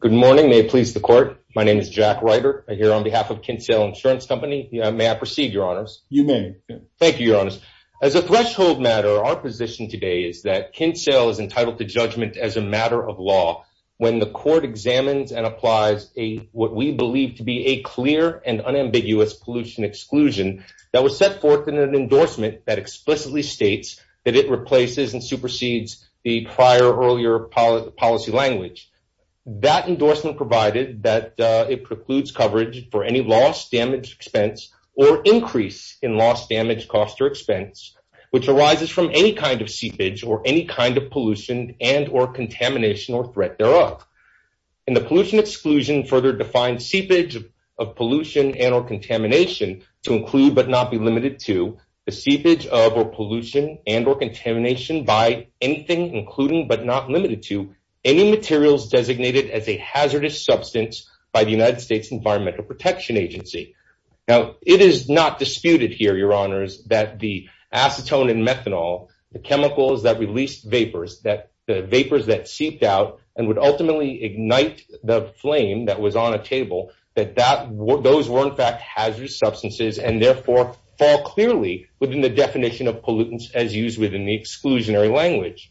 Good morning. May it please the court. My name is Jack Reiter. I'm here on behalf of Kinsale Insurance Company. May I proceed, Your Honors? You may. Thank you, Your Honors. As a threshold matter, our position today is that Kinsale is entitled to judgment as a matter of law when the court examines and applies what we believe to be a clear and unambiguous pollution exclusion that was set forth in an endorsement that explicitly states that it replaces and supersedes the prior earlier policy language. That endorsement provided that it precludes coverage for any loss, damage, expense, or increase in loss, damage, cost, or expense which arises from any kind of seepage or any kind of pollution and or contamination or threat thereof. And the pollution exclusion further defines seepage of pollution and or contamination to include but not be limited to the seepage of or pollution and or contamination by anything including but not limited to any materials designated as a hazardous substance by the United States Environmental Protection Agency. Now, it is not disputed here, Your Honors, that the acetone and methanol, the chemicals that release vapors, the vapors that seeped out and would ultimately ignite the flame that was on a table, that those were in fact hazardous substances and therefore fall clearly within the definition of pollutants as used within the exclusionary language.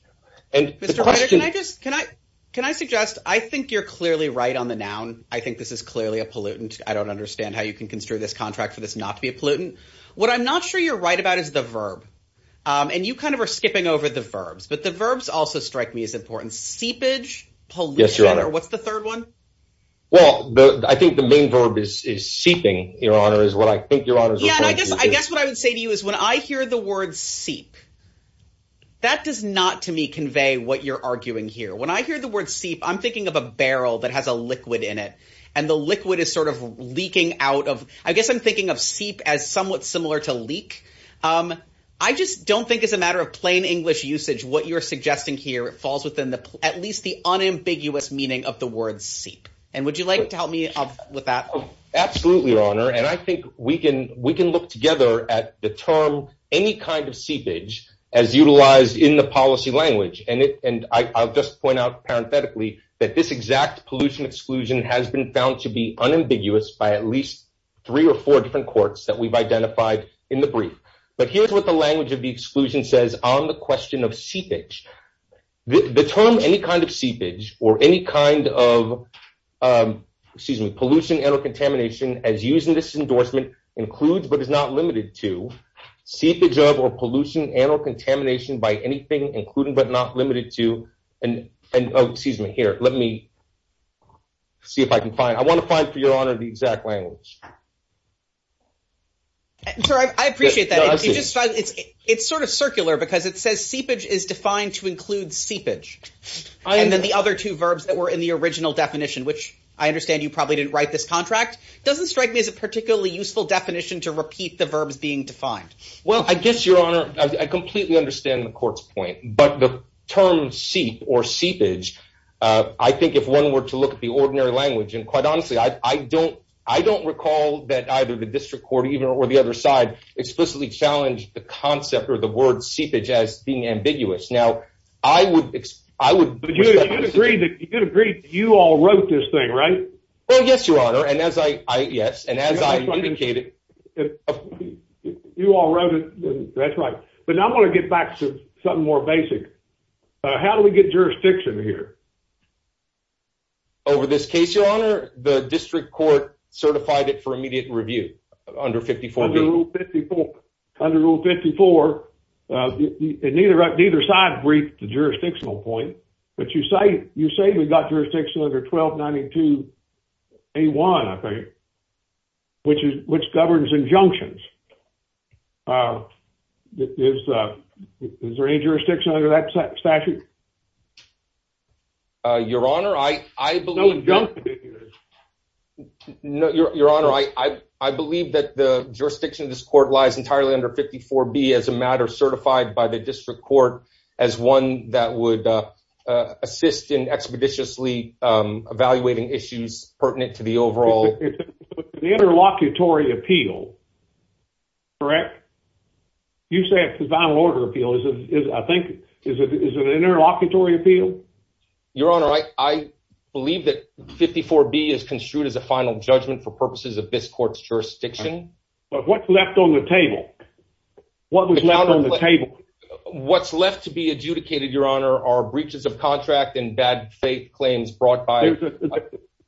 Mr. Reiter, can I suggest, I think you're clearly right on the noun. I think this is clearly a pollutant. I don't understand how you can construe this contract for this not to be a pollutant. What I'm not sure you're right about is the verb. And you kind of are skipping over the verbs, but the verbs also strike me as important. Yes, Your Honor. What's the third one? Well, I think the main verb is seeping, Your Honor, is what I think Your Honor is referring to. Yeah, I guess what I would say to you is when I hear the word seep, that does not to me convey what you're arguing here. When I hear the word seep, I'm thinking of a barrel that has a liquid in it. And the liquid is sort of leaking out of, I guess I'm thinking of seep as somewhat similar to leak. I just don't think as a matter of plain English usage, what you're suggesting here falls within at least the unambiguous meaning of the word seep. And would you like to help me with that? Absolutely, Your Honor. And I think we can look together at the term any kind of seepage as utilized in the policy language. And I'll just point out parenthetically that this exact pollution exclusion has been found to be unambiguous by at least three or four different courts that we've identified in the brief. But here's what the language of the exclusion says on the question of seepage. The term any kind of seepage or any kind of pollution and or contamination as used in this endorsement includes but is not limited to seepage of or pollution and or contamination by anything including but not limited to. Excuse me, here. Let me see if I can find it. I want to find, for Your Honor, the exact language. I appreciate that. It's sort of circular because it says seepage is defined to include seepage. And then the other two verbs that were in the original definition, which I understand you probably didn't write this contract, doesn't strike me as a particularly useful definition to repeat the verbs being defined. Well, I guess, Your Honor, I completely understand the court's point. But the term seep or seepage, I think if one were to look at the ordinary language, and quite honestly, I don't recall that either the district court or even or the other side explicitly challenged the concept or the word seepage as being ambiguous. Now, I would I would agree that you all wrote this thing, right? Well, yes, Your Honor. And as I yes. And as I indicated, you all wrote it. That's right. But I want to get back to something more basic. How do we get jurisdiction here? Over this case, Your Honor, the district court certified it for immediate review under 54. Under Rule 54, neither side briefed the jurisdictional point. But you say we've got jurisdiction under 1292A1, I think, which governs injunctions. Is there any jurisdiction under that statute? Your Honor, I believe that the jurisdiction of this court lies entirely under 54B as a matter certified by the district court as one that would assist in expeditiously evaluating issues pertinent to the overall interlocutory appeal. Correct. You say it's a design order appeal. I think it is an interlocutory appeal. Your Honor, I believe that 54B is construed as a final judgment for purposes of this court's jurisdiction. But what's left on the table? What was left on the table? What's left to be adjudicated, Your Honor, are breaches of contract and bad faith claims brought by.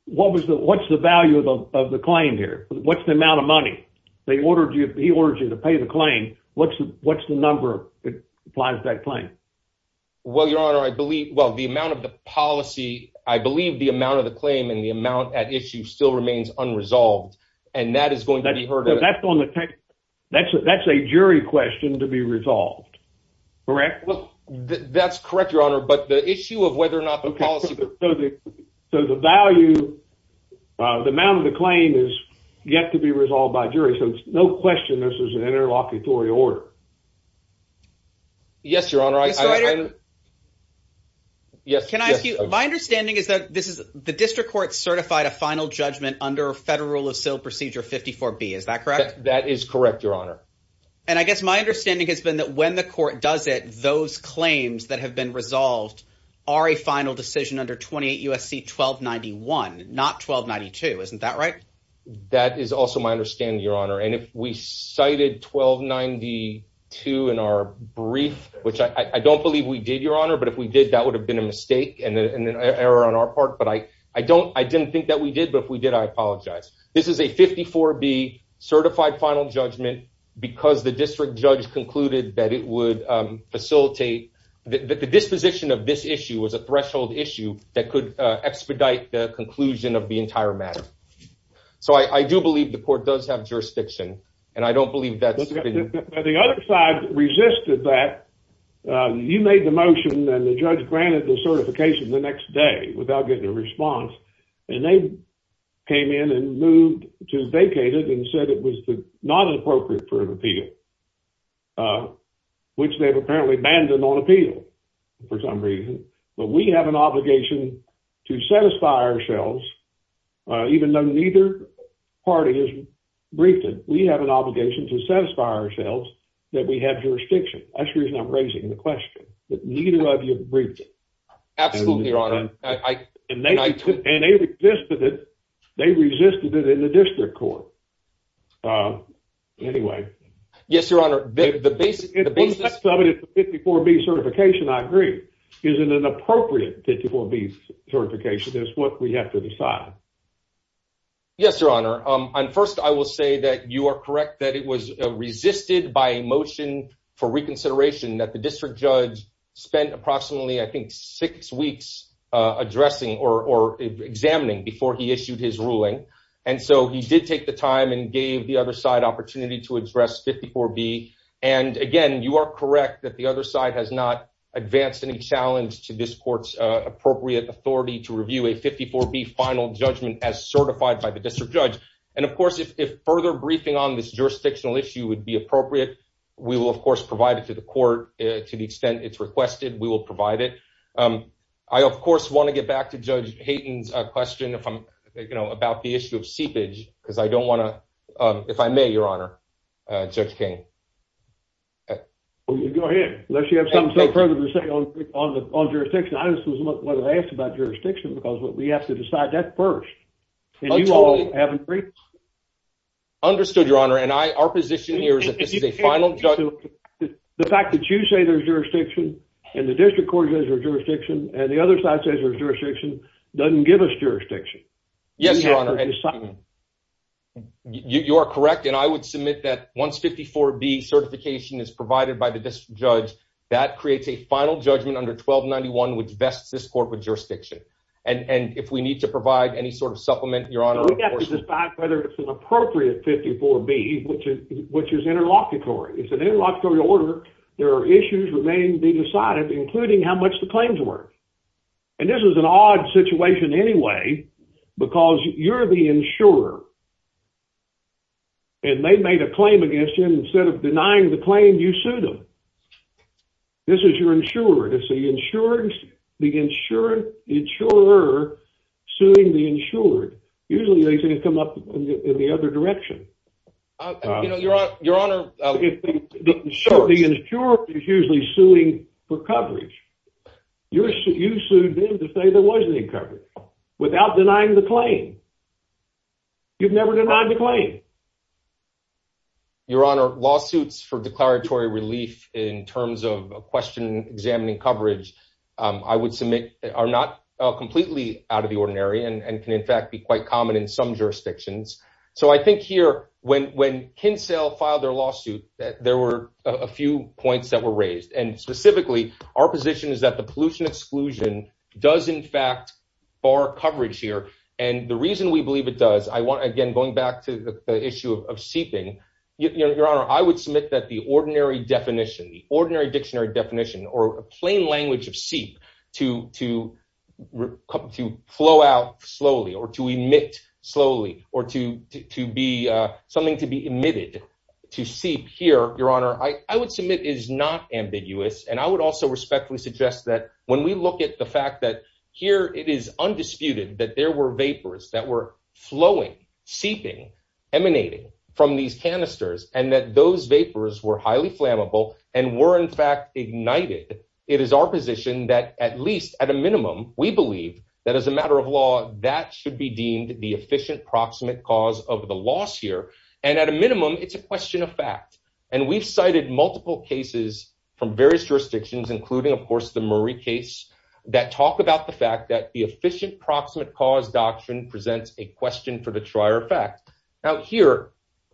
What was the what's the value of the claim here? What's the amount of money they ordered you? He ordered you to pay the claim. What's the what's the number that applies to that claim? Well, Your Honor, I believe. Well, the amount of the policy, I believe the amount of the claim and the amount at issue still remains unresolved. And that is going to be heard. That's a jury question to be resolved. Correct. That's correct, Your Honor. But the issue of whether or not the policy. So the value, the amount of the claim is yet to be resolved by jury. This is an interlocutory order. Yes, Your Honor. Yes. Can I ask you? My understanding is that this is the district court certified a final judgment under federal rule of sale procedure. Fifty four B. Is that correct? That is correct, Your Honor. And I guess my understanding has been that when the court does it, those claims that have been resolved are a final decision under 28 USC, 1291, not 1292. Isn't that right? That is also my understanding, Your Honor. And if we cited 1292 in our brief, which I don't believe we did, Your Honor, but if we did, that would have been a mistake and an error on our part. But I, I don't, I didn't think that we did, but if we did, I apologize. This is a 54 B certified final judgment because the district judge concluded that it would facilitate the disposition of this issue was a threshold issue that could expedite the conclusion of the entire matter. So I do believe the court does have jurisdiction and I don't believe that. The other side resisted that you made the motion and the judge granted the certification the next day without getting a response. And they came in and moved to vacated and said, it was not an appropriate for an appeal, which they've apparently abandoned on appeal for some reason. But we have an obligation to satisfy ourselves, even though neither party is briefed. We have an obligation to satisfy ourselves that we have jurisdiction. I'm sure he's not raising the question, but neither of you briefed it. Absolutely, Your Honor. And they, and they resisted it. They resisted it in the district court. Anyway. Yes, Your Honor. The basis of it is 54 B certification. I agree. Isn't an appropriate 54 B certification is what we have to decide. Yes, Your Honor. And first I will say that you are correct, that it was resisted by a motion for reconsideration that the district judge spent approximately, I think six weeks addressing or examining before he issued his ruling. And so he did take the time and gave the other side opportunity to address 54 B. And again, you are correct that the other side has not advanced any challenge to this court's appropriate authority to review a 54 B final judgment as certified by the district judge. And of course, if, if further briefing on this jurisdictional issue would be appropriate, we will of course provide it to the court to the extent it's requested. We will provide it. I of course want to get back to judge Hayden's question. If I'm, you know, about the issue of seepage because I don't want to if I may, Your Honor, Judge King. Go ahead. Unless you have something further to say on the, on the on jurisdiction, I just was what I asked about jurisdiction because we have to decide that first. And you all haven't. Understood your honor. And I, our position here is that this is a final judgment. The fact that you say there's jurisdiction and the district court has jurisdiction and the other side says there's jurisdiction doesn't give us jurisdiction. Yes, Your Honor. You are correct. And I would submit that once 54 B certification is provided by the district judge, that creates a final judgment under 12 91, which vests this corporate jurisdiction. And, and if we need to provide any sort of supplement, Your Honor, we have to decide whether it's an appropriate 54 B, which is, which is interlocutory. It's an interlocutory order. There are issues remaining to be decided, including how much the claims were. And this was an odd situation anyway, because you're the insurer. And they made a claim against you instead of denying the claim, you sued them. This is your insurer to see insurance. The insurance insurer suing the insured. Usually they can come up in the other direction. Your Honor. Sure. The insurance is usually suing for coverage. Your suit, you sued them to say there wasn't any coverage without denying the claim. You've never denied the claim. Your Honor lawsuits for declaratory relief in terms of a question, examining coverage. I would submit are not completely out of the ordinary and, and can in fact be quite common in some jurisdictions. So I think here when, when Kinsel filed their lawsuit, there were a few points that were raised and specifically our position is that the pollution exclusion does in fact bar coverage here. And the reason we believe it does, I want again, going back to the issue of seeping, Your Honor, I would submit that the ordinary definition, the ordinary dictionary definition or a plain language of seep to, to come to flow out slowly or to emit slowly or to, to be something to be emitted to seep here. Your Honor, I would submit is not ambiguous. And I would also respectfully suggest that when we look at the fact that here it is undisputed, that there were vapors that were flowing, seeping emanating from these canisters and that those vapors were highly flammable and were in fact ignited. It is our position that at least at a minimum, we believe that as a matter of law, that should be deemed the efficient proximate cause of the loss here. And at a minimum, it's a question of fact, and we've cited multiple cases from various jurisdictions, including of course, the Murray case that talk about the fact that the efficient proximate cause doctrine presents a question for the trier effect out here.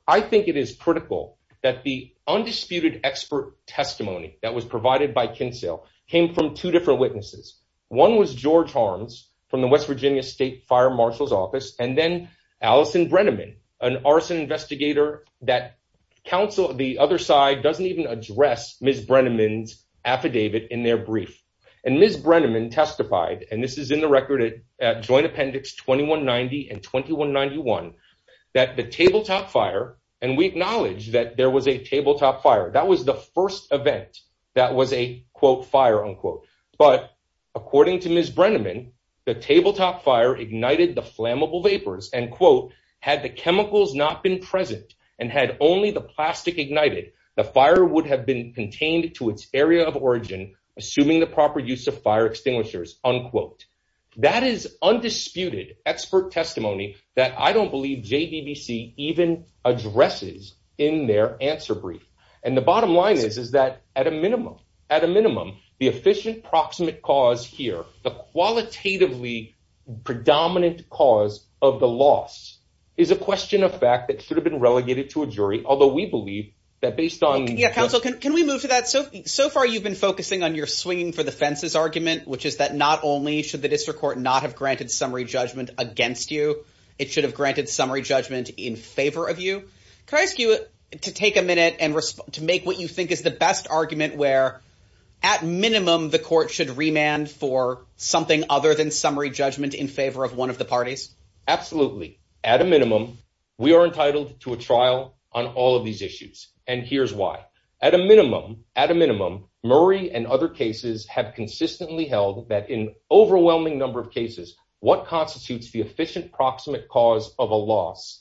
I think it is critical that the undisputed expert testimony that was provided by Kinsell came from two different witnesses. One was George harms from the West Virginia state fire Marshall's office. And then Alison Brenneman, an arson investigator that counsel the other side doesn't even address Ms. Brenneman's affidavit in their brief. And Ms. Brenneman testified, and this is in the record at joint appendix, 2190 and 2191 that the tabletop fire. And we acknowledge that there was a tabletop fire. That was the first event that was a quote fire unquote, but according to Ms. Brenneman, the tabletop fire ignited the flammable vapors and quote, had the chemicals not been present and had only the plastic ignited, the fire would have been contained to its area of origin. Assuming the proper use of fire extinguishers unquote, that is undisputed expert testimony that I don't believe JVBC even addresses in their answer brief. And the bottom line is, is that at a minimum, at a minimum, the efficient proximate cause here, the qualitatively predominant cause of the loss is a question of fact that should have been relegated to a jury. Although we believe that based on counsel, can, can we move to that? So, so far you've been focusing on your swinging for the fences argument, which is that not only should the district court not have granted summary judgment against you, it should have granted summary judgment in favor of you. Can I ask you to take a minute and respond to make what you think is the best argument where at minimum, the court should remand for something other than summary judgment in favor of one of the parties? Absolutely. At a minimum, we are entitled to a trial on all of these issues. And here's why. At a minimum, at a minimum, Murray and other cases have consistently held that in overwhelming number of cases, what constitutes the efficient proximate cause of a loss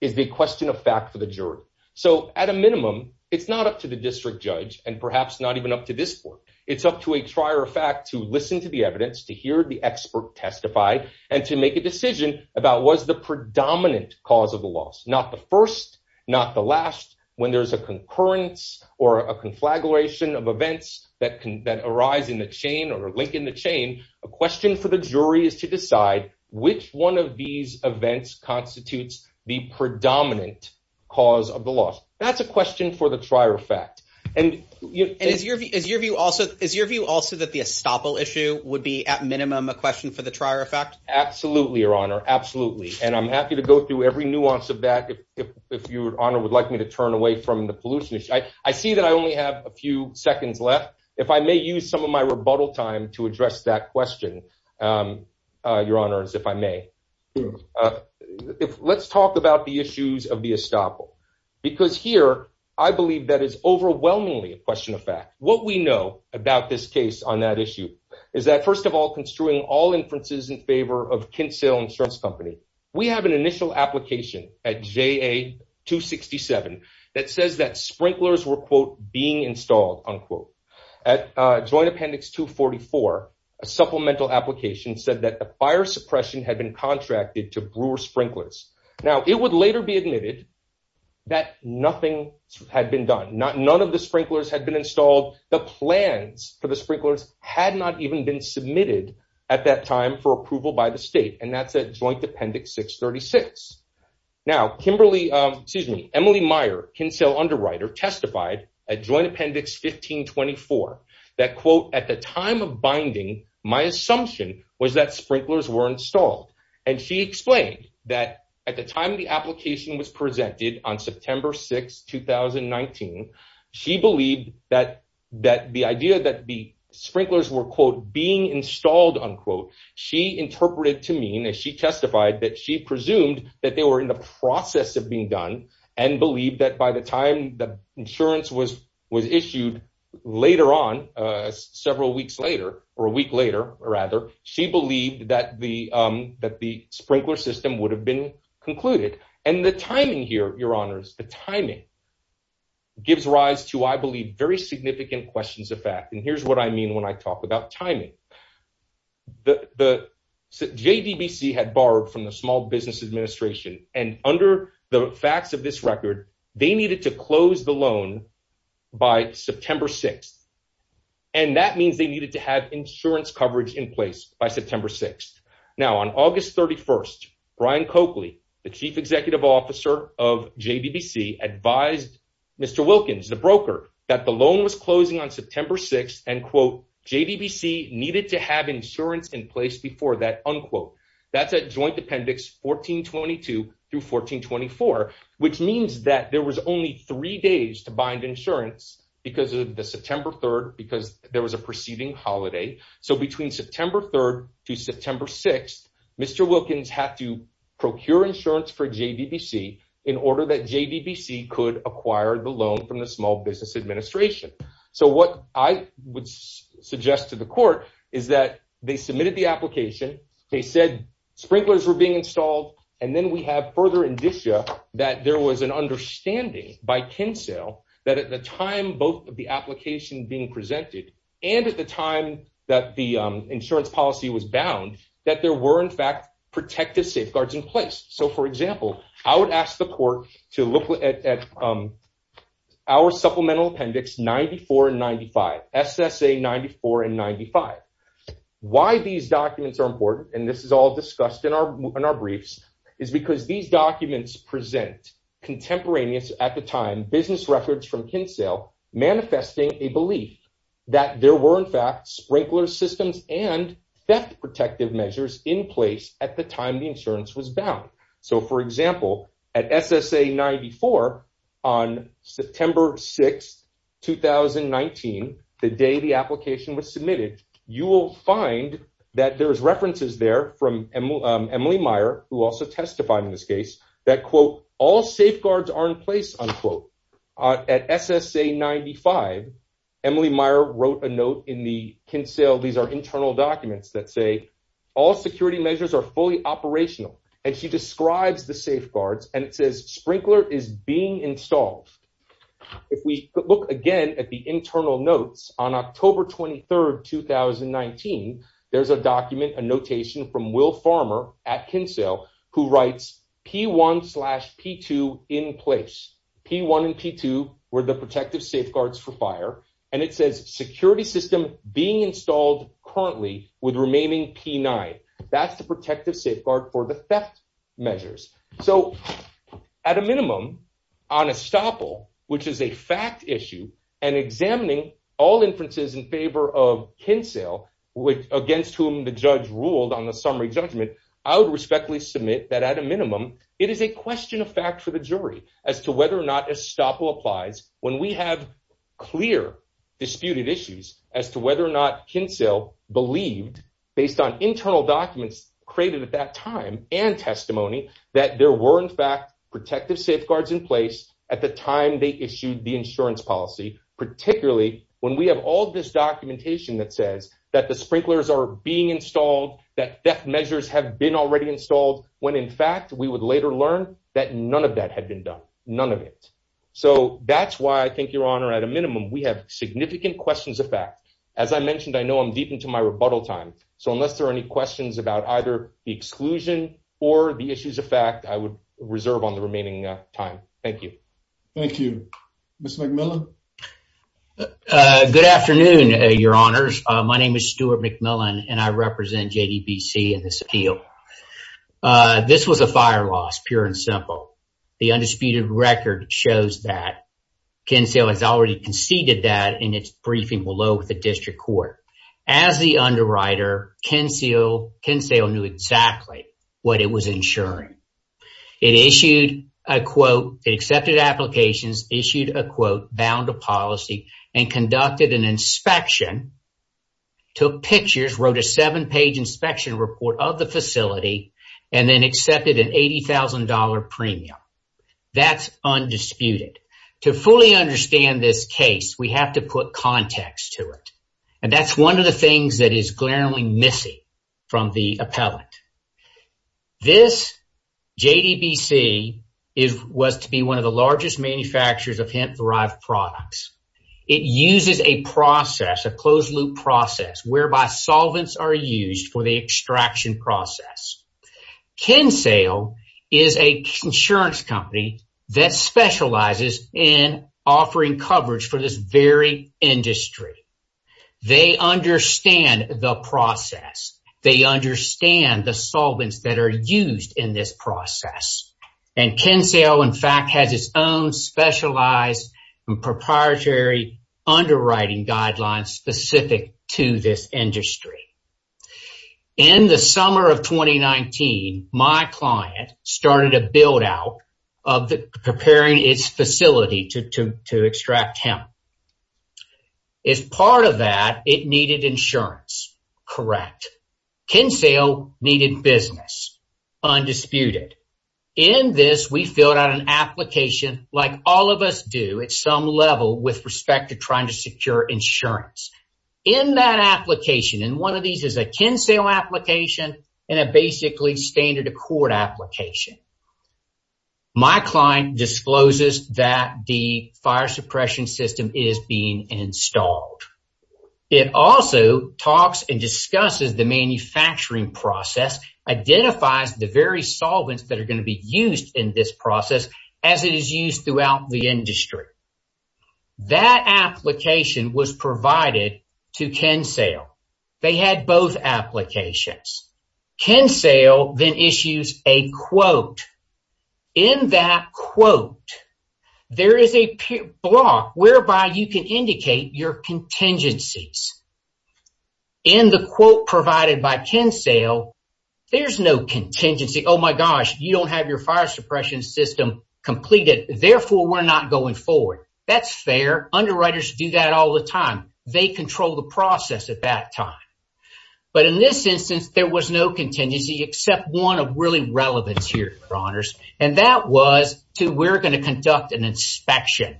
is the question of fact for the jury. So at a minimum, it's not up to the district judge and perhaps not even up to this board. It's up to a trier fact to listen to the evidence, to hear the expert testify and to make a decision about what's the predominant cause of the loss. Not the first, not the last. When there's a concurrence or a conflagration of events that can, that arise in the chain or link in the chain, a question for the jury is to decide which one of these events constitutes the predominant cause of the loss. That's a question for the trier fact. And is your view, is your view also, is your view also that the estoppel issue would be at minimum a question for the trier effect? Absolutely. Your honor. Absolutely. And I'm happy to go through every nuance of that. If, if, if your honor would like me to turn away from the pollution issue, I see that I only have a few seconds left. If I may use some of my rebuttal time to address that question. Your honors, if I may, let's talk about the issues of the estoppel because here I believe that is overwhelmingly a question of fact, what we know about this case on that issue is that first of all, construing all inferences in favor of Kent sale insurance company, we have an initial application at J a two 67. That says that sprinklers were quote being installed on quote at a joint appendix, two 44, a supplemental application said that the fire suppression had been contracted to brewer sprinklers. Now it would later be admitted that nothing had been done. Not none of the sprinklers had been installed. The plans for the sprinklers had not even been submitted at that time for appendix six 36. Now, Kimberly, excuse me, Emily Meyer can sell underwriter testified at joint appendix 1524 that quote at the time of binding, my assumption was that sprinklers were installed. And she explained that at the time the application was presented on September 6, 2019, she believed that that the idea that the sprinklers were quote being installed on quote, She interpreted to mean that she testified that she presumed that they were in the process of being done and believed that by the time the insurance was, was issued later on several weeks later or a week later, or rather she believed that the that the sprinkler system would have been concluded. And the timing here, your honors, the timing gives rise to, I believe very significant questions of fact. And here's what I mean when I talk about timing, the JDBC had borrowed from the small business administration and under the facts of this record, they needed to close the loan by September 6th and that means they needed to have insurance coverage in place by September 6th. Now on August 31st, Brian Coakley, the chief executive officer of JDBC advised Mr. Wilkins the broker that the loan was closing on September 6th and quote JDBC needed to have insurance in place before that unquote, that's a joint appendix 1422 through 1424, which means that there was only three days to bind insurance because of the September 3rd, because there was a preceding holiday. So between September 3rd to September 6th, Mr. Wilkins had to procure insurance for JDBC in order that JDBC could acquire the loan from the small business administration. So what I would suggest to the court is that they submitted the application. They said sprinklers were being installed. And then we have further indicia that there was an understanding by Kinsale that at the time, both of the application being presented and at the time that the insurance policy was bound, that there were in fact protective safeguards in place. So for example, I would ask the court to look at our supplemental appendix, 94 and 95 SSA, 94 and 95. Why these documents are important. And this is all discussed in our, in our briefs is because these documents present contemporaneous at the time business records from Kinsale manifesting a belief that there were in fact sprinkler systems and theft protective measures in place at the time the insurance was bound. So for example, at SSA 94 on September 6th, 2019 the day the application was submitted, you will find that there's references there from Emily Meyer, who also testified in this case that quote, all safeguards are in place on quote at SSA 95. Emily Meyer wrote a note in the Kinsale. These are internal documents that say all security measures are fully operational. And she describes the safeguards and it says sprinkler is being installed. If we look again at the internal notes on October 23rd, 2019, there's a document, a notation from will farmer at Kinsale who writes P one slash P two in place. P one and P two were the protective safeguards for fire. And it says security system being installed currently with remaining P nine. That's the protective safeguard for the theft measures. So at a minimum on a stopper, which is a fact issue and examining all inferences in favor of Kinsale against whom the judge ruled on the summary judgment, I would respectfully submit that at a minimum, it is a question of fact for the jury as to whether or not a stopper applies when we have clear disputed issues as to whether or not Kinsale believed based on internal documents created at that time and testimony that there were in fact, protective safeguards in place at the time they issued the insurance policy, particularly when we have all this documentation that says that the sprinklers are being installed, that death measures have been already installed when in fact we would later learn that none of that had been done. None of it. So that's why I think your honor at a minimum, we have significant questions of fact, as I mentioned, I know I'm deep into my rebuttal time. So unless there are any questions about either the exclusion or the issues of fact, I would reserve on the remaining time. Thank you. Thank you. Mr. McMillan. Good afternoon, your honors. My name is Stuart McMillan and I represent JDBC in this appeal. This was a fire loss, pure and simple. The undisputed record shows that Kinsale has already conceded that in its As the underwriter, Kinsale knew exactly what it was insuring. It issued a quote, it accepted applications, issued a quote, bound a policy and conducted an inspection, took pictures, wrote a seven page inspection report of the facility, and then accepted an $80,000 premium. That's undisputed. To fully understand this case, we have to put context to it. And that's one of the things that is glaringly missing from the appellate. This JDBC was to be one of the largest manufacturers of hemp derived products. It uses a process, a closed loop process, whereby solvents are used for the extraction process. Kinsale is a insurance company that specializes in offering coverage for this very industry. They understand the process. They understand the solvents that are used in this process. And Kinsale, in fact, has its own specialized and proprietary underwriting guidelines specific to this industry. In the summer of 2019, my client started a build out of preparing its facility to extract hemp. As part of that, it needed insurance. Correct. Kinsale needed business. Undisputed. In this, we filled out an application like all of us do at some level with respect to trying to secure insurance. In that application, and one of these is a Kinsale application and a basically standard Accord application. My client discloses that the fire suppression system is being installed. It also talks and discusses the manufacturing process, identifies the very solvents that are going to be used in this process as it is used throughout the industry. That application was provided to Kinsale. They had both applications. Kinsale then issues a quote. In that quote, there is a block whereby you can indicate your contingencies. In the quote provided by Kinsale, there's no contingency. Oh my gosh, you don't have your fire suppression system completed. Therefore, we're not going forward. That's fair. Underwriters do that all the time. They control the process at that time. But in this instance, there was no contingency except one of really relevance here, your honors. And that was to we're going to conduct an inspection.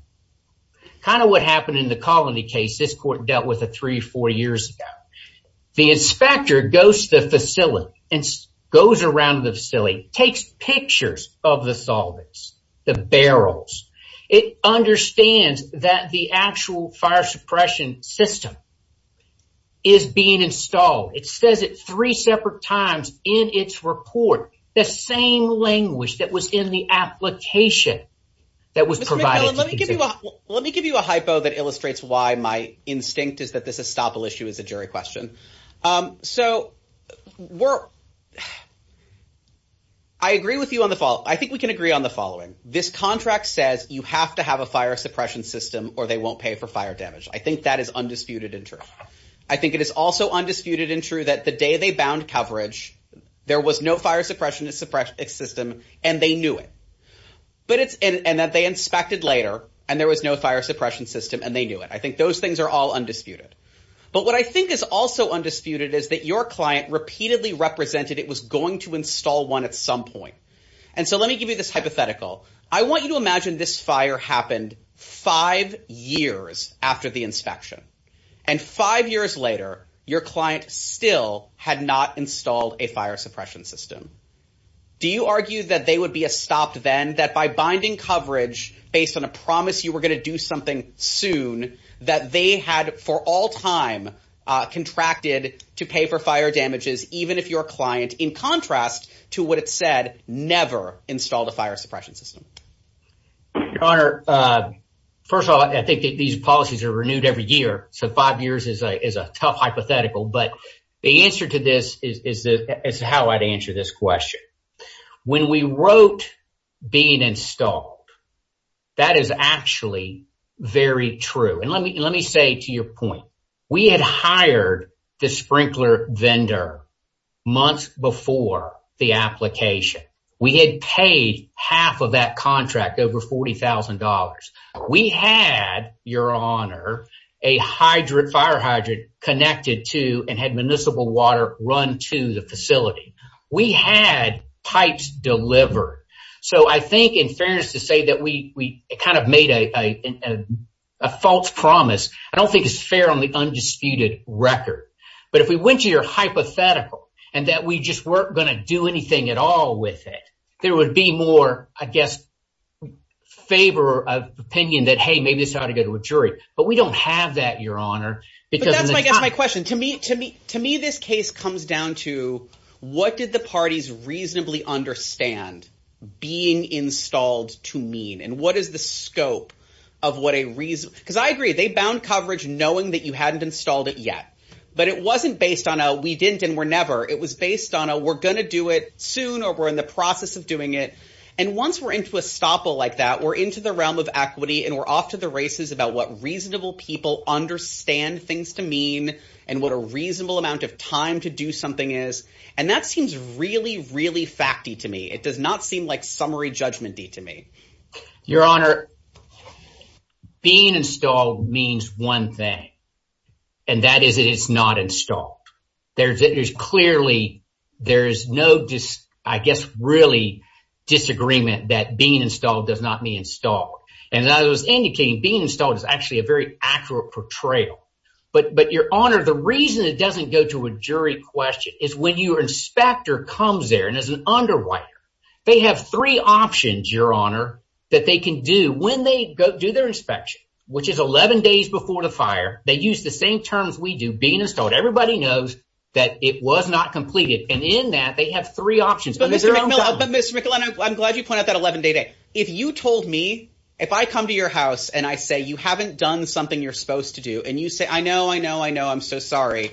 Kind of what happened in the colony case. This court dealt with a three, four years ago. The inspector goes to the facility and goes around the facility, takes pictures of the solvents, the barrels. It understands that the actual fire suppression system is being installed. It says it three separate times in its report. The same language that was in the application that was provided. Let me give you a hypo that illustrates why my instinct is that this estoppel issue is a jury question. So we're. I agree with you on the fall. I think we can agree on the following. This contract says you have to have a fire suppression system or they won't pay for fire damage. I think that is undisputed in terms. I think it is also undisputed and true that the day they bound coverage, there was no fire suppression suppression system and they knew it. But it's, and that they inspected later and there was no fire suppression system and they knew it. I think those things are all undisputed. But what I think is also undisputed is that your client repeatedly represented. It was going to install one at some point. And so let me give you this hypothetical. I want you to imagine this fire happened five years after the inspection and five years later, your client still had not installed a fire suppression system. Do you argue that they would be a stopped then that by binding coverage based on a promise you were going to do something soon that they had for all time contracted to pay for fire damages, even if your client in contrast to what it said, never installed a fire suppression system. Your honor. First of all, I think that these policies are renewed every year. So five years is a, is a tough hypothetical, but the answer to this is how I'd answer this question. When we wrote being installed, that is actually very true. And let me, let me say to your point, we had hired the sprinkler vendor months before the application. We had paid half of that contract over $40,000. We had your honor, a hydrant fire hydrant connected to and had municipal water run to the facility. We had pipes delivered. So I think in fairness to say that we, we kind of made a false promise. I don't think it's fair on the undisputed record, but if we went to your hypothetical and that we just weren't going to do anything at all with it, there would be more, I guess, favor of opinion that, Hey, maybe this ought to go to a jury, but we don't have that. Your honor, because I guess my question to me, to me, to me, this case comes down to what did the parties reasonably understand being installed to mean? And what is the scope of what a reason? Cause I agree. They bound coverage knowing that you hadn't installed it yet, but it wasn't based on a, we didn't and we're never, it was based on a we're going to do it soon, or we're in the process of doing it. And once we're into a stopper like that, we're into the realm of equity and we're off to the races about what reasonable people understand things to mean and what a reasonable amount of time to do something is. And that seems really, really fact to me. It does not seem like summary judgment to me, your honor being installed means one thing. And that is, it is not installed. There's, it is clearly, there is no, just, I guess, really disagreement that being installed does not mean installed. And I was indicating being installed is actually a very accurate portrayal, but, but your honor, the reason it doesn't go to a jury question is when you are inspector comes there and as an underwriter, they have three options, your honor, that they can do when they go do their inspection, which is 11 days before the fire. They use the same terms. We do being installed. Everybody knows that it was not completed. And in that they have three options, but Mr. McAleenan, I'm glad you pointed out that 11 day day. If you told me, if I come to your house and I say, you haven't done something you're supposed to do. And you say, I know, I know, I know. I'm so sorry,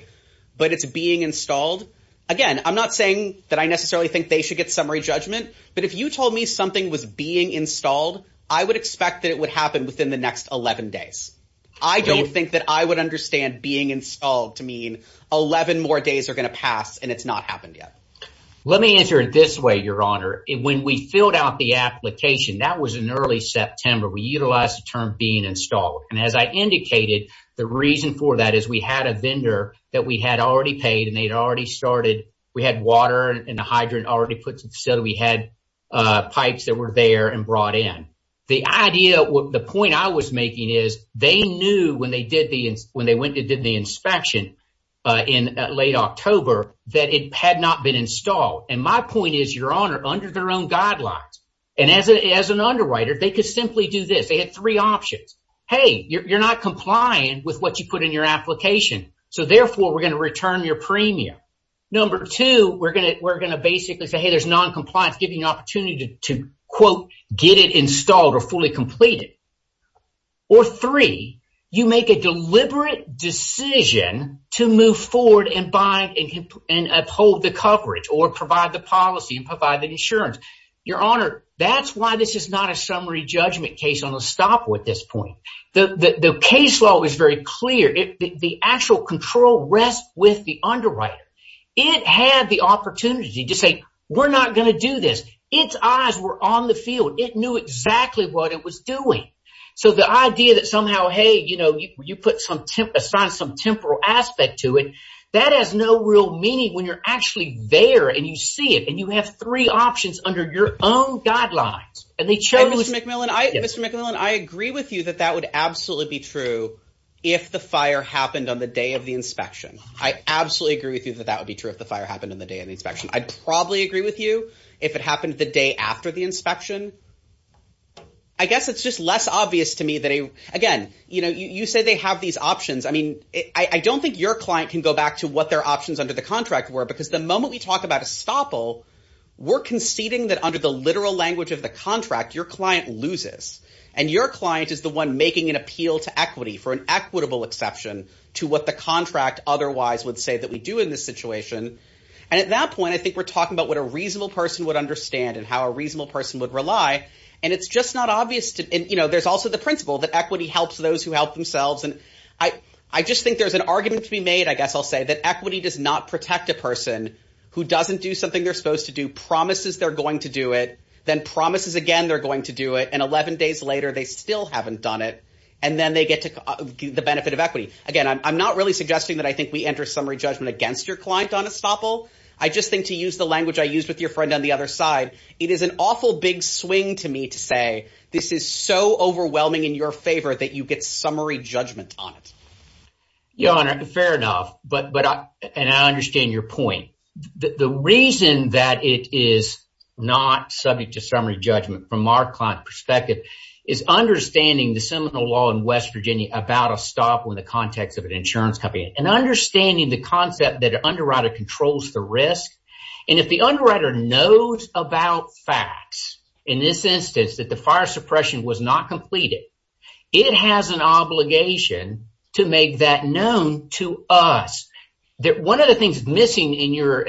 but it's being installed again. I'm not saying that I necessarily think they should get summary judgment, but if you told me something was being installed, I would expect that it would happen within the next 11 days. I don't think that I would understand being installed to mean 11 more days are going to pass and it's not happened yet. Let me answer it this way. Your honor. When we filled out the application, that was an early September. We utilize the term being installed. And as I indicated, the reason for that is we had a vendor that we had already paid and they'd already started. We had water and the hydrant already put to the facility. We had pipes that were there and brought in the idea. The point I was making is they knew when they did the, when they went and did the inspection in late October, that it had not been installed. And my point is your honor under their own guidelines. And as an, as an underwriter, they could simply do this. They had three options. Hey, you're not complying with what you put in your application. So therefore we're going to return your premium. Number two, we're going to, we're going to basically say, Hey, there's noncompliance give you an opportunity to quote, get it installed or fully completed. Or three, you make a deliberate decision to move forward and buy and, and uphold the coverage or provide the policy and provide the insurance. Your honor, that's why this is not a summary judgment case on a stop with this point. The case law is very clear. The actual control rests with the underwriter. It had the opportunity to say, we're not going to do this. It's eyes were on the field. It knew exactly what it was doing. So the idea that somehow, Hey, you know, you, you put some temp aside, some temporal aspect to it that has no real meaning when you're actually there and you see it and you have three options under your own guidelines. And they chose. Mr. McMillan, I agree with you that that would absolutely be true. If the fire happened on the day of the inspection, I absolutely agree with you that that would be true. If the fire happened in the day of the inspection, I'd probably agree with you. If it happened the day after the inspection, I guess it's just less obvious to me that he, again, you know, you say they have these options. I mean, I don't think your client can go back to what their options under the contract were, because the moment we talk about a stop. We're conceding that under the literal language of the contract, your client loses. And your client is the one making an appeal to equity for an equitable exception to what the contract otherwise would say that we do in this situation. And at that point, I think we're talking about what a reasonable person would understand and how a reasonable person would rely. And it's just not obvious to, you know, there's also the principle that equity helps those who help themselves. And I, I just think there's an argument to be made. I guess I'll say that equity does not protect a person who doesn't do something they're supposed to do promises. They're going to do it. Then promises again, they're going to do it. And 11 days later, they still haven't done it. And then they get to the benefit of equity. Again, I'm not really suggesting that I think we enter summary judgment against your client on a stopper. I just think to use the language I used with your friend on the other side, it is an awful big swing to me to say, this is so overwhelming in your favor that you get summary judgment on it. Yeah. Fair enough. But, but I, and I understand your point that the reason that it is not subject to summary judgment from our client perspective is understanding the seminal law in West Virginia about a stop when the context of an insurance company. And understanding the concept that an underwriter controls the risk. And if the underwriter knows about facts in this instance, that the fire suppression was not completed, it has an obligation to make that known to us. That one of the things missing in your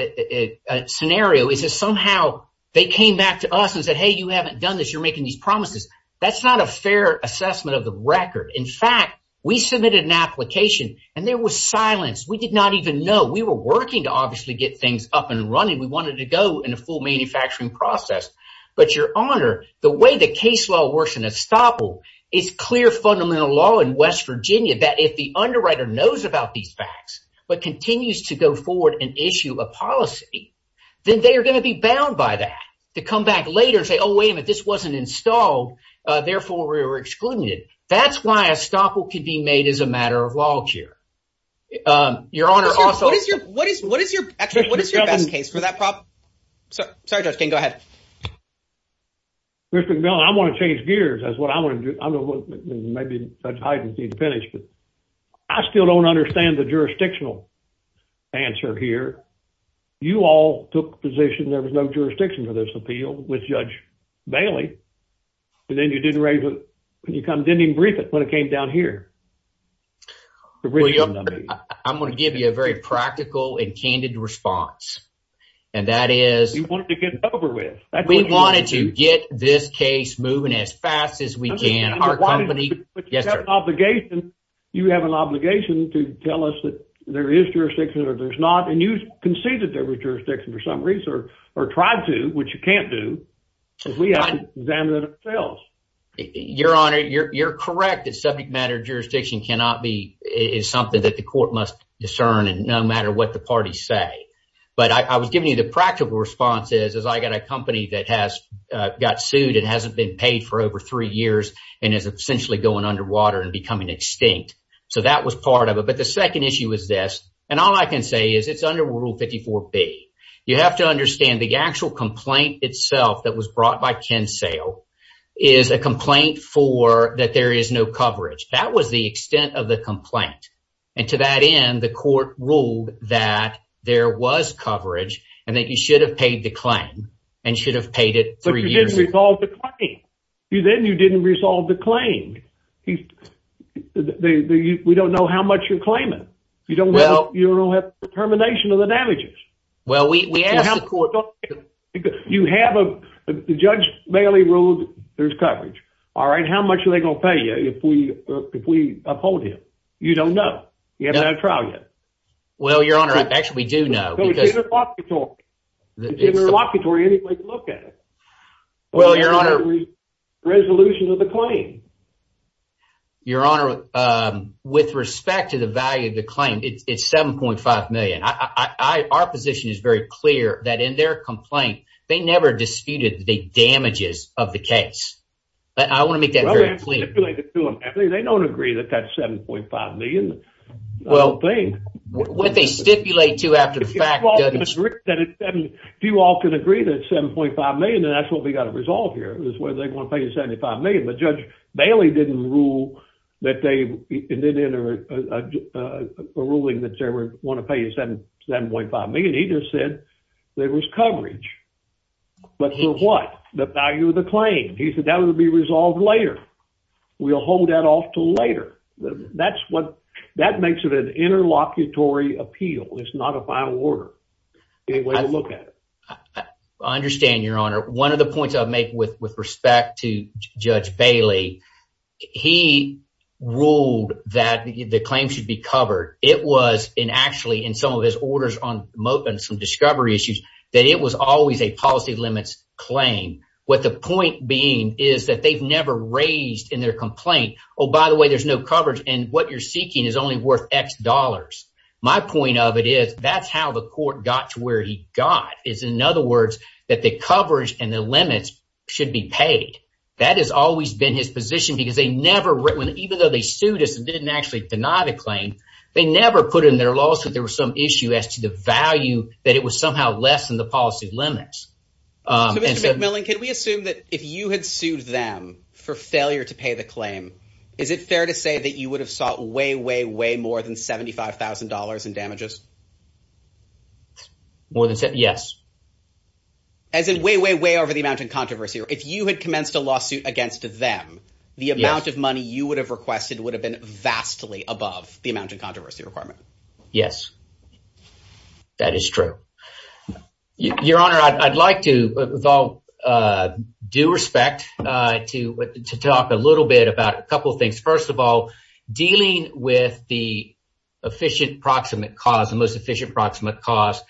scenario is that somehow they came back to us and said, Hey, you haven't done this. You're making these promises. That's not a fair assessment of the record. In fact, we submitted an application and there was silence. We did not even know we were working to obviously get things up and running. We wanted to go in a full manufacturing process, but your honor, the way the case law works in a stop. It's clear fundamental law in West Virginia that if the underwriter knows about these facts, but continues to go forward and issue a policy, then they are going to be bound by that to come back later and say, Oh, wait a minute. This wasn't installed. Therefore we were excluded. That's why a stop will could be made as a matter of law chair. Your honor. Also, what is your, what is your, what is your best case for that problem? Sorry, go ahead. Mr. I want to change gears. That's what I want to do. I don't know. Maybe I didn't need to finish, but I still don't understand the jurisdictional answer here. You all took position. There was no jurisdiction for this appeal with judge Bailey. And then you didn't raise it. When you come didn't even brief it when it came down here. I'm going to give you a very practical and candid response. And that is you wanted to get over with. We wanted to get this case moving as fast as we can. You have an obligation to tell us that there is jurisdiction or there's not. And you can say that there was jurisdiction for some reason or tried to, which you can't do. We haven't examined it ourselves. Your Honor, you're correct. It's subject matter. Jurisdiction cannot be is something that the court must discern. And no matter what the parties say, but I was giving you the practical response is, is I got a company that has got sued and hasn't been paid for over three years and is essentially going underwater and becoming extinct. So that was part of it. But the second issue is this. And all I can say is it's under rule 54 B. You have to understand the actual complaint itself that was brought by Ken Sale is a complaint for that. There is no coverage. That was the extent of the complaint. And to that end, the court ruled that there was coverage and that you should have paid the claim and should have paid it three years. You then you didn't resolve the claim. We don't know how much you're claiming. You don't know. You don't have determination of the damages. Well, we have you have a judge barely ruled. There's coverage. All right. How much are they going to pay you? If we, if we uphold him, you don't know. You haven't had a trial yet. Well, Your Honor, actually, we do know. Well, Your Honor. Resolution of the claim. Your Honor, with respect to the value of the claim, it's 7.5 million. Our position is very clear that in their complaint, they never disputed the damages of the case. I want to make that very clear. They don't agree that that's 7.5 million. Well, what they stipulate to after the fact. Do you all can agree that 7.5 million? And that's what we got to resolve here is where they want to pay 75 million. Judge Bailey didn't rule that they didn't enter a ruling that they were going to pay you 7.5 million. He just said there was coverage. But for what? The value of the claim. He said that would be resolved later. We'll hold that off till later. That's what that makes it an interlocutory appeal. It's not a final order. Anyway, look at it. I understand. Your Honor. One of the points I make with respect to Judge Bailey, he ruled that the claim should be covered. It was in actually in some of his orders on some discovery issues that it was always a policy limits claim. What the point being is that they've never raised in their complaint. Oh, by the way, there's no coverage. And what you're seeking is only worth X dollars. My point of it is that's how the court got to where he got. In other words, that the coverage and the limits should be paid. That has always been his position because they never written, even though they sued us and didn't actually deny the claim, they never put in their lawsuit. There was some issue as to the value that it was somehow less than the policy limits. Mr. McMillan, can we assume that if you had sued them for failure to pay the claim, is it fair to say that you would have sought way, way more than $75,000 in damages? More than yes. As in way, way, way over the amount of controversy. If you had commenced a lawsuit against them, the amount of money you would have requested would have been vastly above the amount of controversy requirement. Yes, that is true. Your Honor, I'd like to, with all due respect to talk a little bit about a couple of things. First of all, dealing with the efficient proximate cause, the most efficient proximate cause.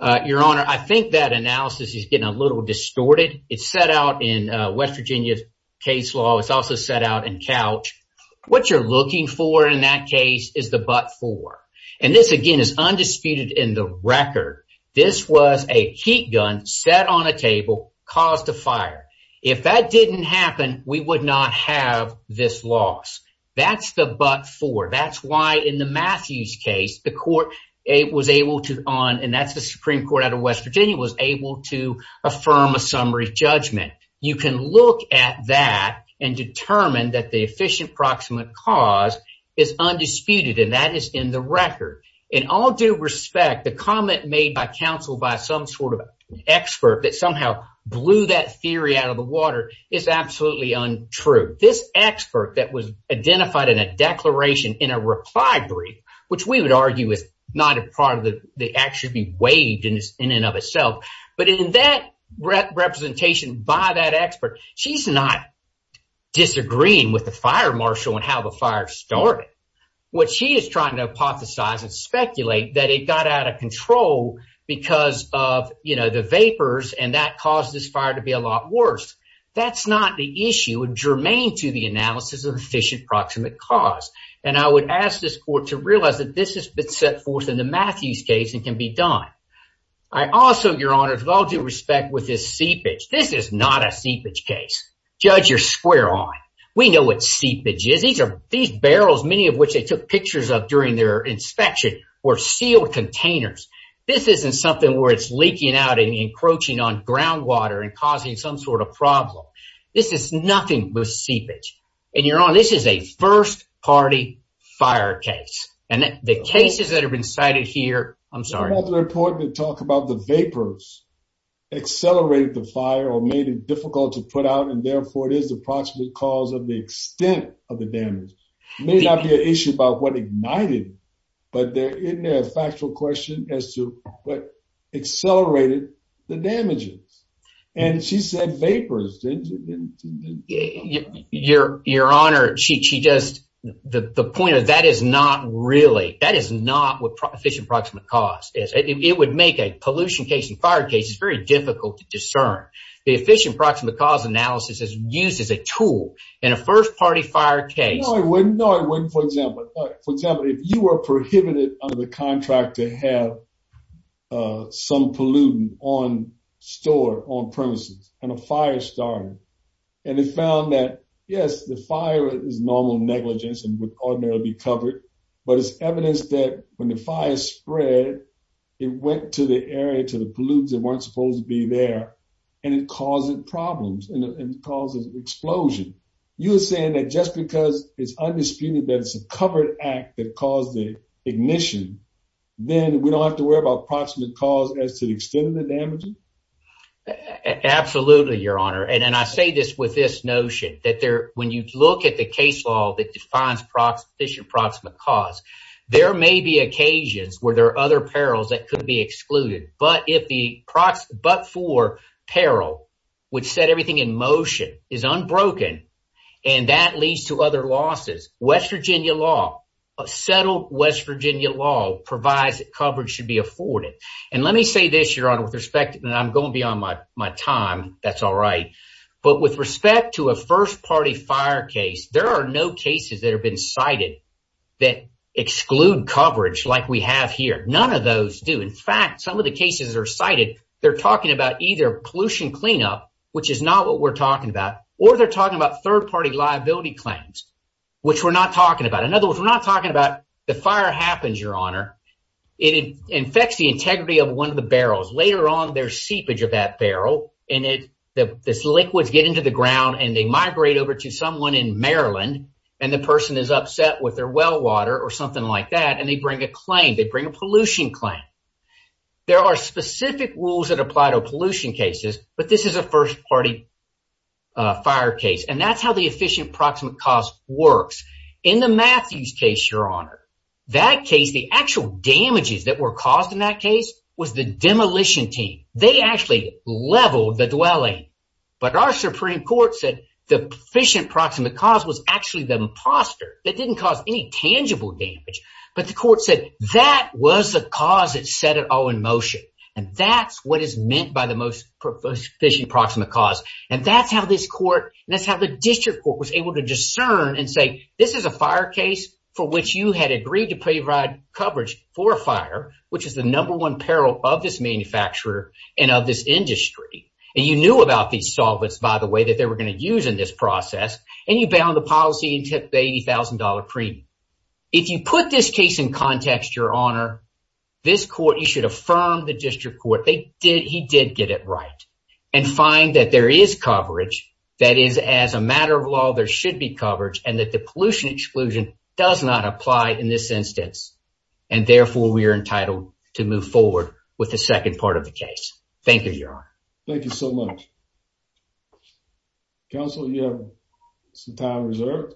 Your Honor, I think that analysis is getting a little distorted. It's set out in West Virginia's case law. It's also set out in Couch. What you're looking for in that case is the but for, and this again is undisputed in the record. This was a heat gun set on a table caused a fire. If that didn't happen, we would not have this loss. That's the but for. That's why in the Matthews case, the court was able to, and that's the Supreme Court out of West Virginia, was able to affirm a summary judgment. You can look at that and determine that the efficient proximate cause is undisputed, and that is in the record. In all due respect, the comment made by counsel by some sort of expert that somehow blew that theory out of the water is absolutely untrue. This expert that was identified in a declaration in a reply brief, which we would argue is not a part of the act should be waived in and of itself, but in that representation by that expert, she's not disagreeing with the fire marshal and how the fire started. What she is trying to hypothesize and speculate that it got out of control because of the vapors, and that caused this fire to be a lot worse. That's not the issue. It's germane to the analysis of efficient proximate cause, and I would ask this court to realize that this has been set forth in the Matthews case and can be done. Also, Your Honor, with all due respect, with this seepage, this is not a seepage case. Judge, you're square on. We know what seepage is. These barrels, many of which they took pictures of during their inspection, were sealed containers. This isn't something where it's leaking out and encroaching on groundwater and causing some sort of problem. This is nothing but seepage. And Your Honor, this is a first-party fire case, and the cases that have been cited here, I'm sorry. It's important to talk about the vapors accelerated the fire or made it difficult to put out, and therefore, it is the proximate cause of the extent of the damage. It may not be an issue about what ignited, but isn't there a factual question as to what accelerated the damages? And she said vapors. Your Honor, she just, the point of that is not really, that is not what efficient proximate cause is. It would make a pollution case and fire case. It's very difficult to discern. The efficient proximate cause analysis is used as a tool in a first-party fire case. No, it wouldn't. For example, if you were prohibited under the contract to have some pollutant on store, on premises, and a fire started, and it found that, yes, the fire is normal negligence and would ordinarily be covered, but it's evidence that when the fire spread, it went to the area, to the pollutes that weren't supposed to be there, and it caused problems and caused an explosion. You are saying that just because it's undisputed that it's a covered act that caused the ignition, then we don't have to worry about proximate cause as to the extent of the damage? Absolutely, Your Honor. I say this with this notion that when you look at the case law that defines efficient proximate cause, there may be occasions where there are other perils that could be excluded, but for peril, which set everything in motion, is unbroken, and that leads to other losses. West Virginia law, settled West Virginia law, provides that coverage should be afforded. Let me say this, Your Honor, with respect, and I'm going to be on my time, that's all right, but with respect to a first-party fire case, there are no cases that have been cited that exclude coverage like we have here. None of those do. In fact, some of the cases that are cited, they're talking about either pollution cleanup, which is not what we're talking about, or they're talking about third-party liability claims, which we're not talking about. In other words, we're not talking about the fire happens, Your Honor. It infects the integrity of one of the barrels. Later on, there's seepage of that barrel, and this liquid gets into the ground, and they migrate over to someone in Maryland, and the person is upset with their well water or something like that, and they bring a claim. They bring a pollution claim. There are specific rules that apply to pollution cases, but this is a first-party fire case, and that's how the efficient approximate cost works. In the Matthews case, Your Honor, that case, the actual damages that were caused in that case was the demolition team. They actually leveled the dwelling, but our Supreme Court said the efficient approximate cost was actually the imposter. That didn't cause any tangible damage, but the court said that was the cause that set it all in motion, and that's what is meant by the most efficient approximate cost, and that's how this court, and that's how the district court was able to discern and say, this is a fire case for which you had agreed to provide coverage for a fire, which is the number one peril of this manufacturer and of this industry, and you knew about these solvents, by the way, that they were going to use in this process, and you bound the policy and took the $80,000 premium. If you put this case in context, Your Honor, this court, you should affirm the district court. He did get it right, and find that there is coverage. That is, as a matter of law, there should be coverage, and that the pollution exclusion does not apply in this instance, and therefore we are entitled to move forward with the second part of the case. Thank you, Your Honor. Thank you so much. Counsel, you have some time reserved.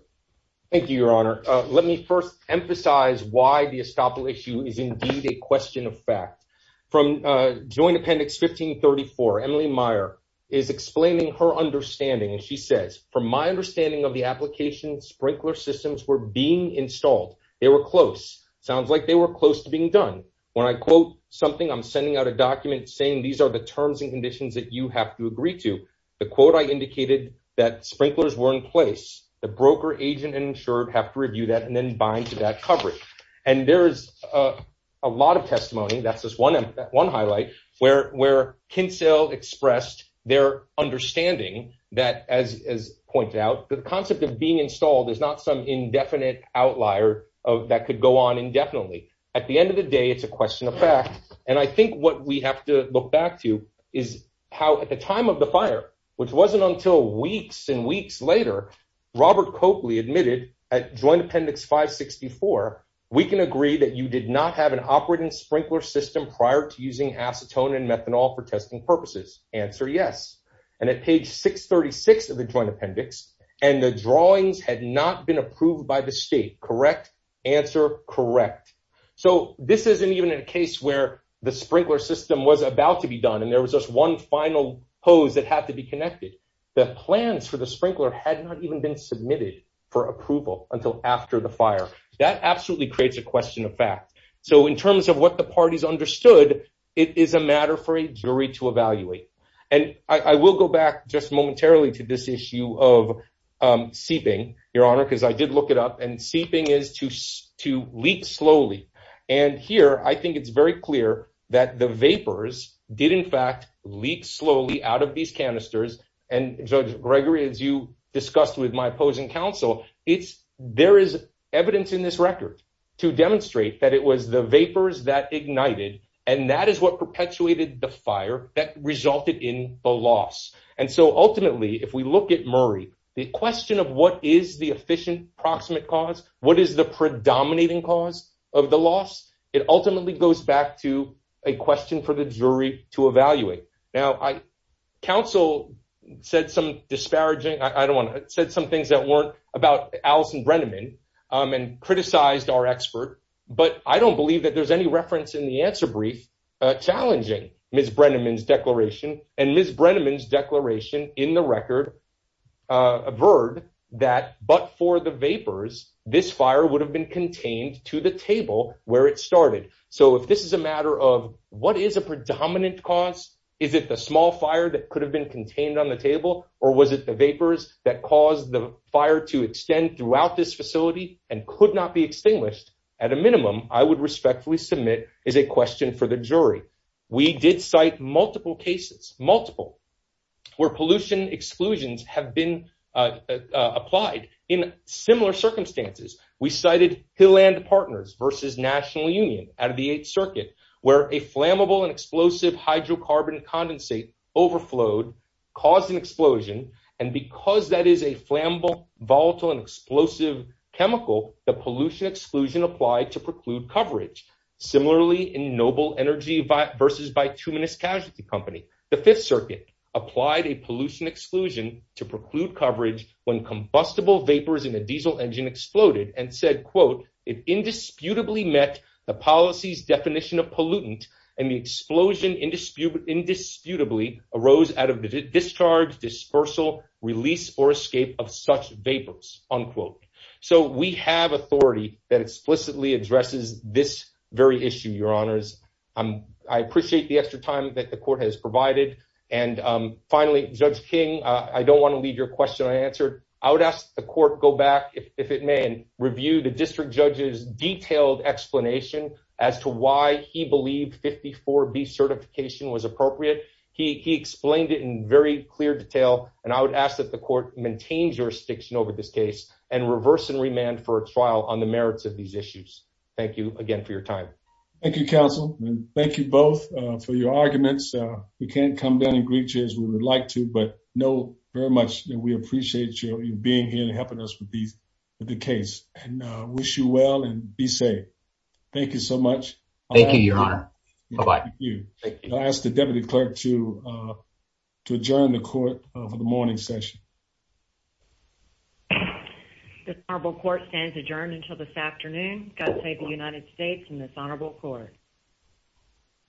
Thank you, Your Honor. Let me first emphasize why the estoppel issue is indeed a question of fact. From Joint Appendix 1534, Emily Meyer is explaining her understanding, and she says, from my understanding of the application, sprinkler systems were being installed. They were close. It sounds like they were close to being done. When I quote something, I'm sending out a document saying these are the terms and conditions that you have to agree to. The quote I indicated that sprinklers were in place. The broker, agent, and insured have to review that and then bind to that coverage. And there is a lot of testimony, that's just one highlight, where Kinsell expressed their understanding that, as pointed out, the concept of being installed is not some indefinite outlier that could go on indefinitely. At the end of the day, it's a question of fact. And I think what we have to look back to is how, at the time of the fire, which wasn't until weeks and weeks later, Robert Copley admitted at Joint Appendix 564, we can agree that you did not have an operating sprinkler system prior to the fire. And that sprinkler system was in place using acetone and methanol for testing purposes. Answer, yes. And at page 636 of the Joint Appendix, and the drawings had not been approved by the state. Correct? Answer. Correct. So this isn't even a case where the sprinkler system was about to be done. And there was just one final pose that had to be connected. The plans for the sprinkler had not even been submitted for approval until after the fire. That absolutely creates a question of fact. So in terms of what the parties understood, it is a matter for a jury to evaluate. And I will go back just momentarily to this issue of seeping your honor, because I did look it up and seeping is to, to leak slowly. And here, I think it's very clear that the vapors did in fact leak slowly out of these canisters. And judge Gregory, as you discussed with my opposing counsel, it's, there is evidence in this record to demonstrate that it was the vapors that ignited. And that is what perpetuated the fire that resulted in the loss. And so ultimately, if we look at Murray, the question of what is the efficient proximate cause, what is the predominating cause of the loss? It ultimately goes back to a question for the jury to evaluate. Now I counsel said some disparaging. I don't want to said some things that weren't about Alison Brenneman and criticized our expert, but I don't believe that there's any reference in the answer brief, challenging Ms. Brenneman's declaration and Ms. Brenneman's declaration in the record. A bird that, but for the vapors, this fire would have been contained to the table where it started. So if this is a matter of what is a predominant cost, is it the small fire that could have been contained on the table or was it the vapors that caused the fire to extend throughout this facility and could not be extinguished at a minimum I would respectfully submit is a question for the jury. We did cite multiple cases, multiple where pollution exclusions have been applied in similar circumstances. We cited Hill and partners versus national union out of the eighth circuit where a flammable and explosive hydrocarbon condensate overflowed causing an explosion. And because that is a flammable volatile and explosive chemical, the pollution exclusion applied to preclude coverage. Similarly in noble energy versus by two minutes casualty company, the fifth circuit applied a pollution exclusion to preclude coverage when combustible vapors in a diesel engine exploded and said, quote, it indisputably met the policy's definition of pollutant and the explosion indisputably indisputably arose out of the discharge dispersal release or escape of such vapors unquote. So we have authority that explicitly addresses this very issue. Your honors. I appreciate the extra time that the court has provided. And finally, judge King, I don't want to leave your question. I answered, I would ask the court go back. If it may review the district judges detailed explanation as to why he for B certification was appropriate. He explained it in very clear detail. And I would ask that the court maintains jurisdiction over this case and reverse and remand for a trial on the merits of these issues. Thank you again for your time. Thank you counsel. Thank you both for your arguments. We can't come down and greet you as we would like to, but know very much that we appreciate you being here and helping us with these, with the case and wish you well and be safe. Thank you so much. Thank you, your honor. Thank you. I asked the deputy clerk to, uh, to adjourn the court for the morning session. The marble court stands adjourned until this afternoon. God save the United States and this honorable court.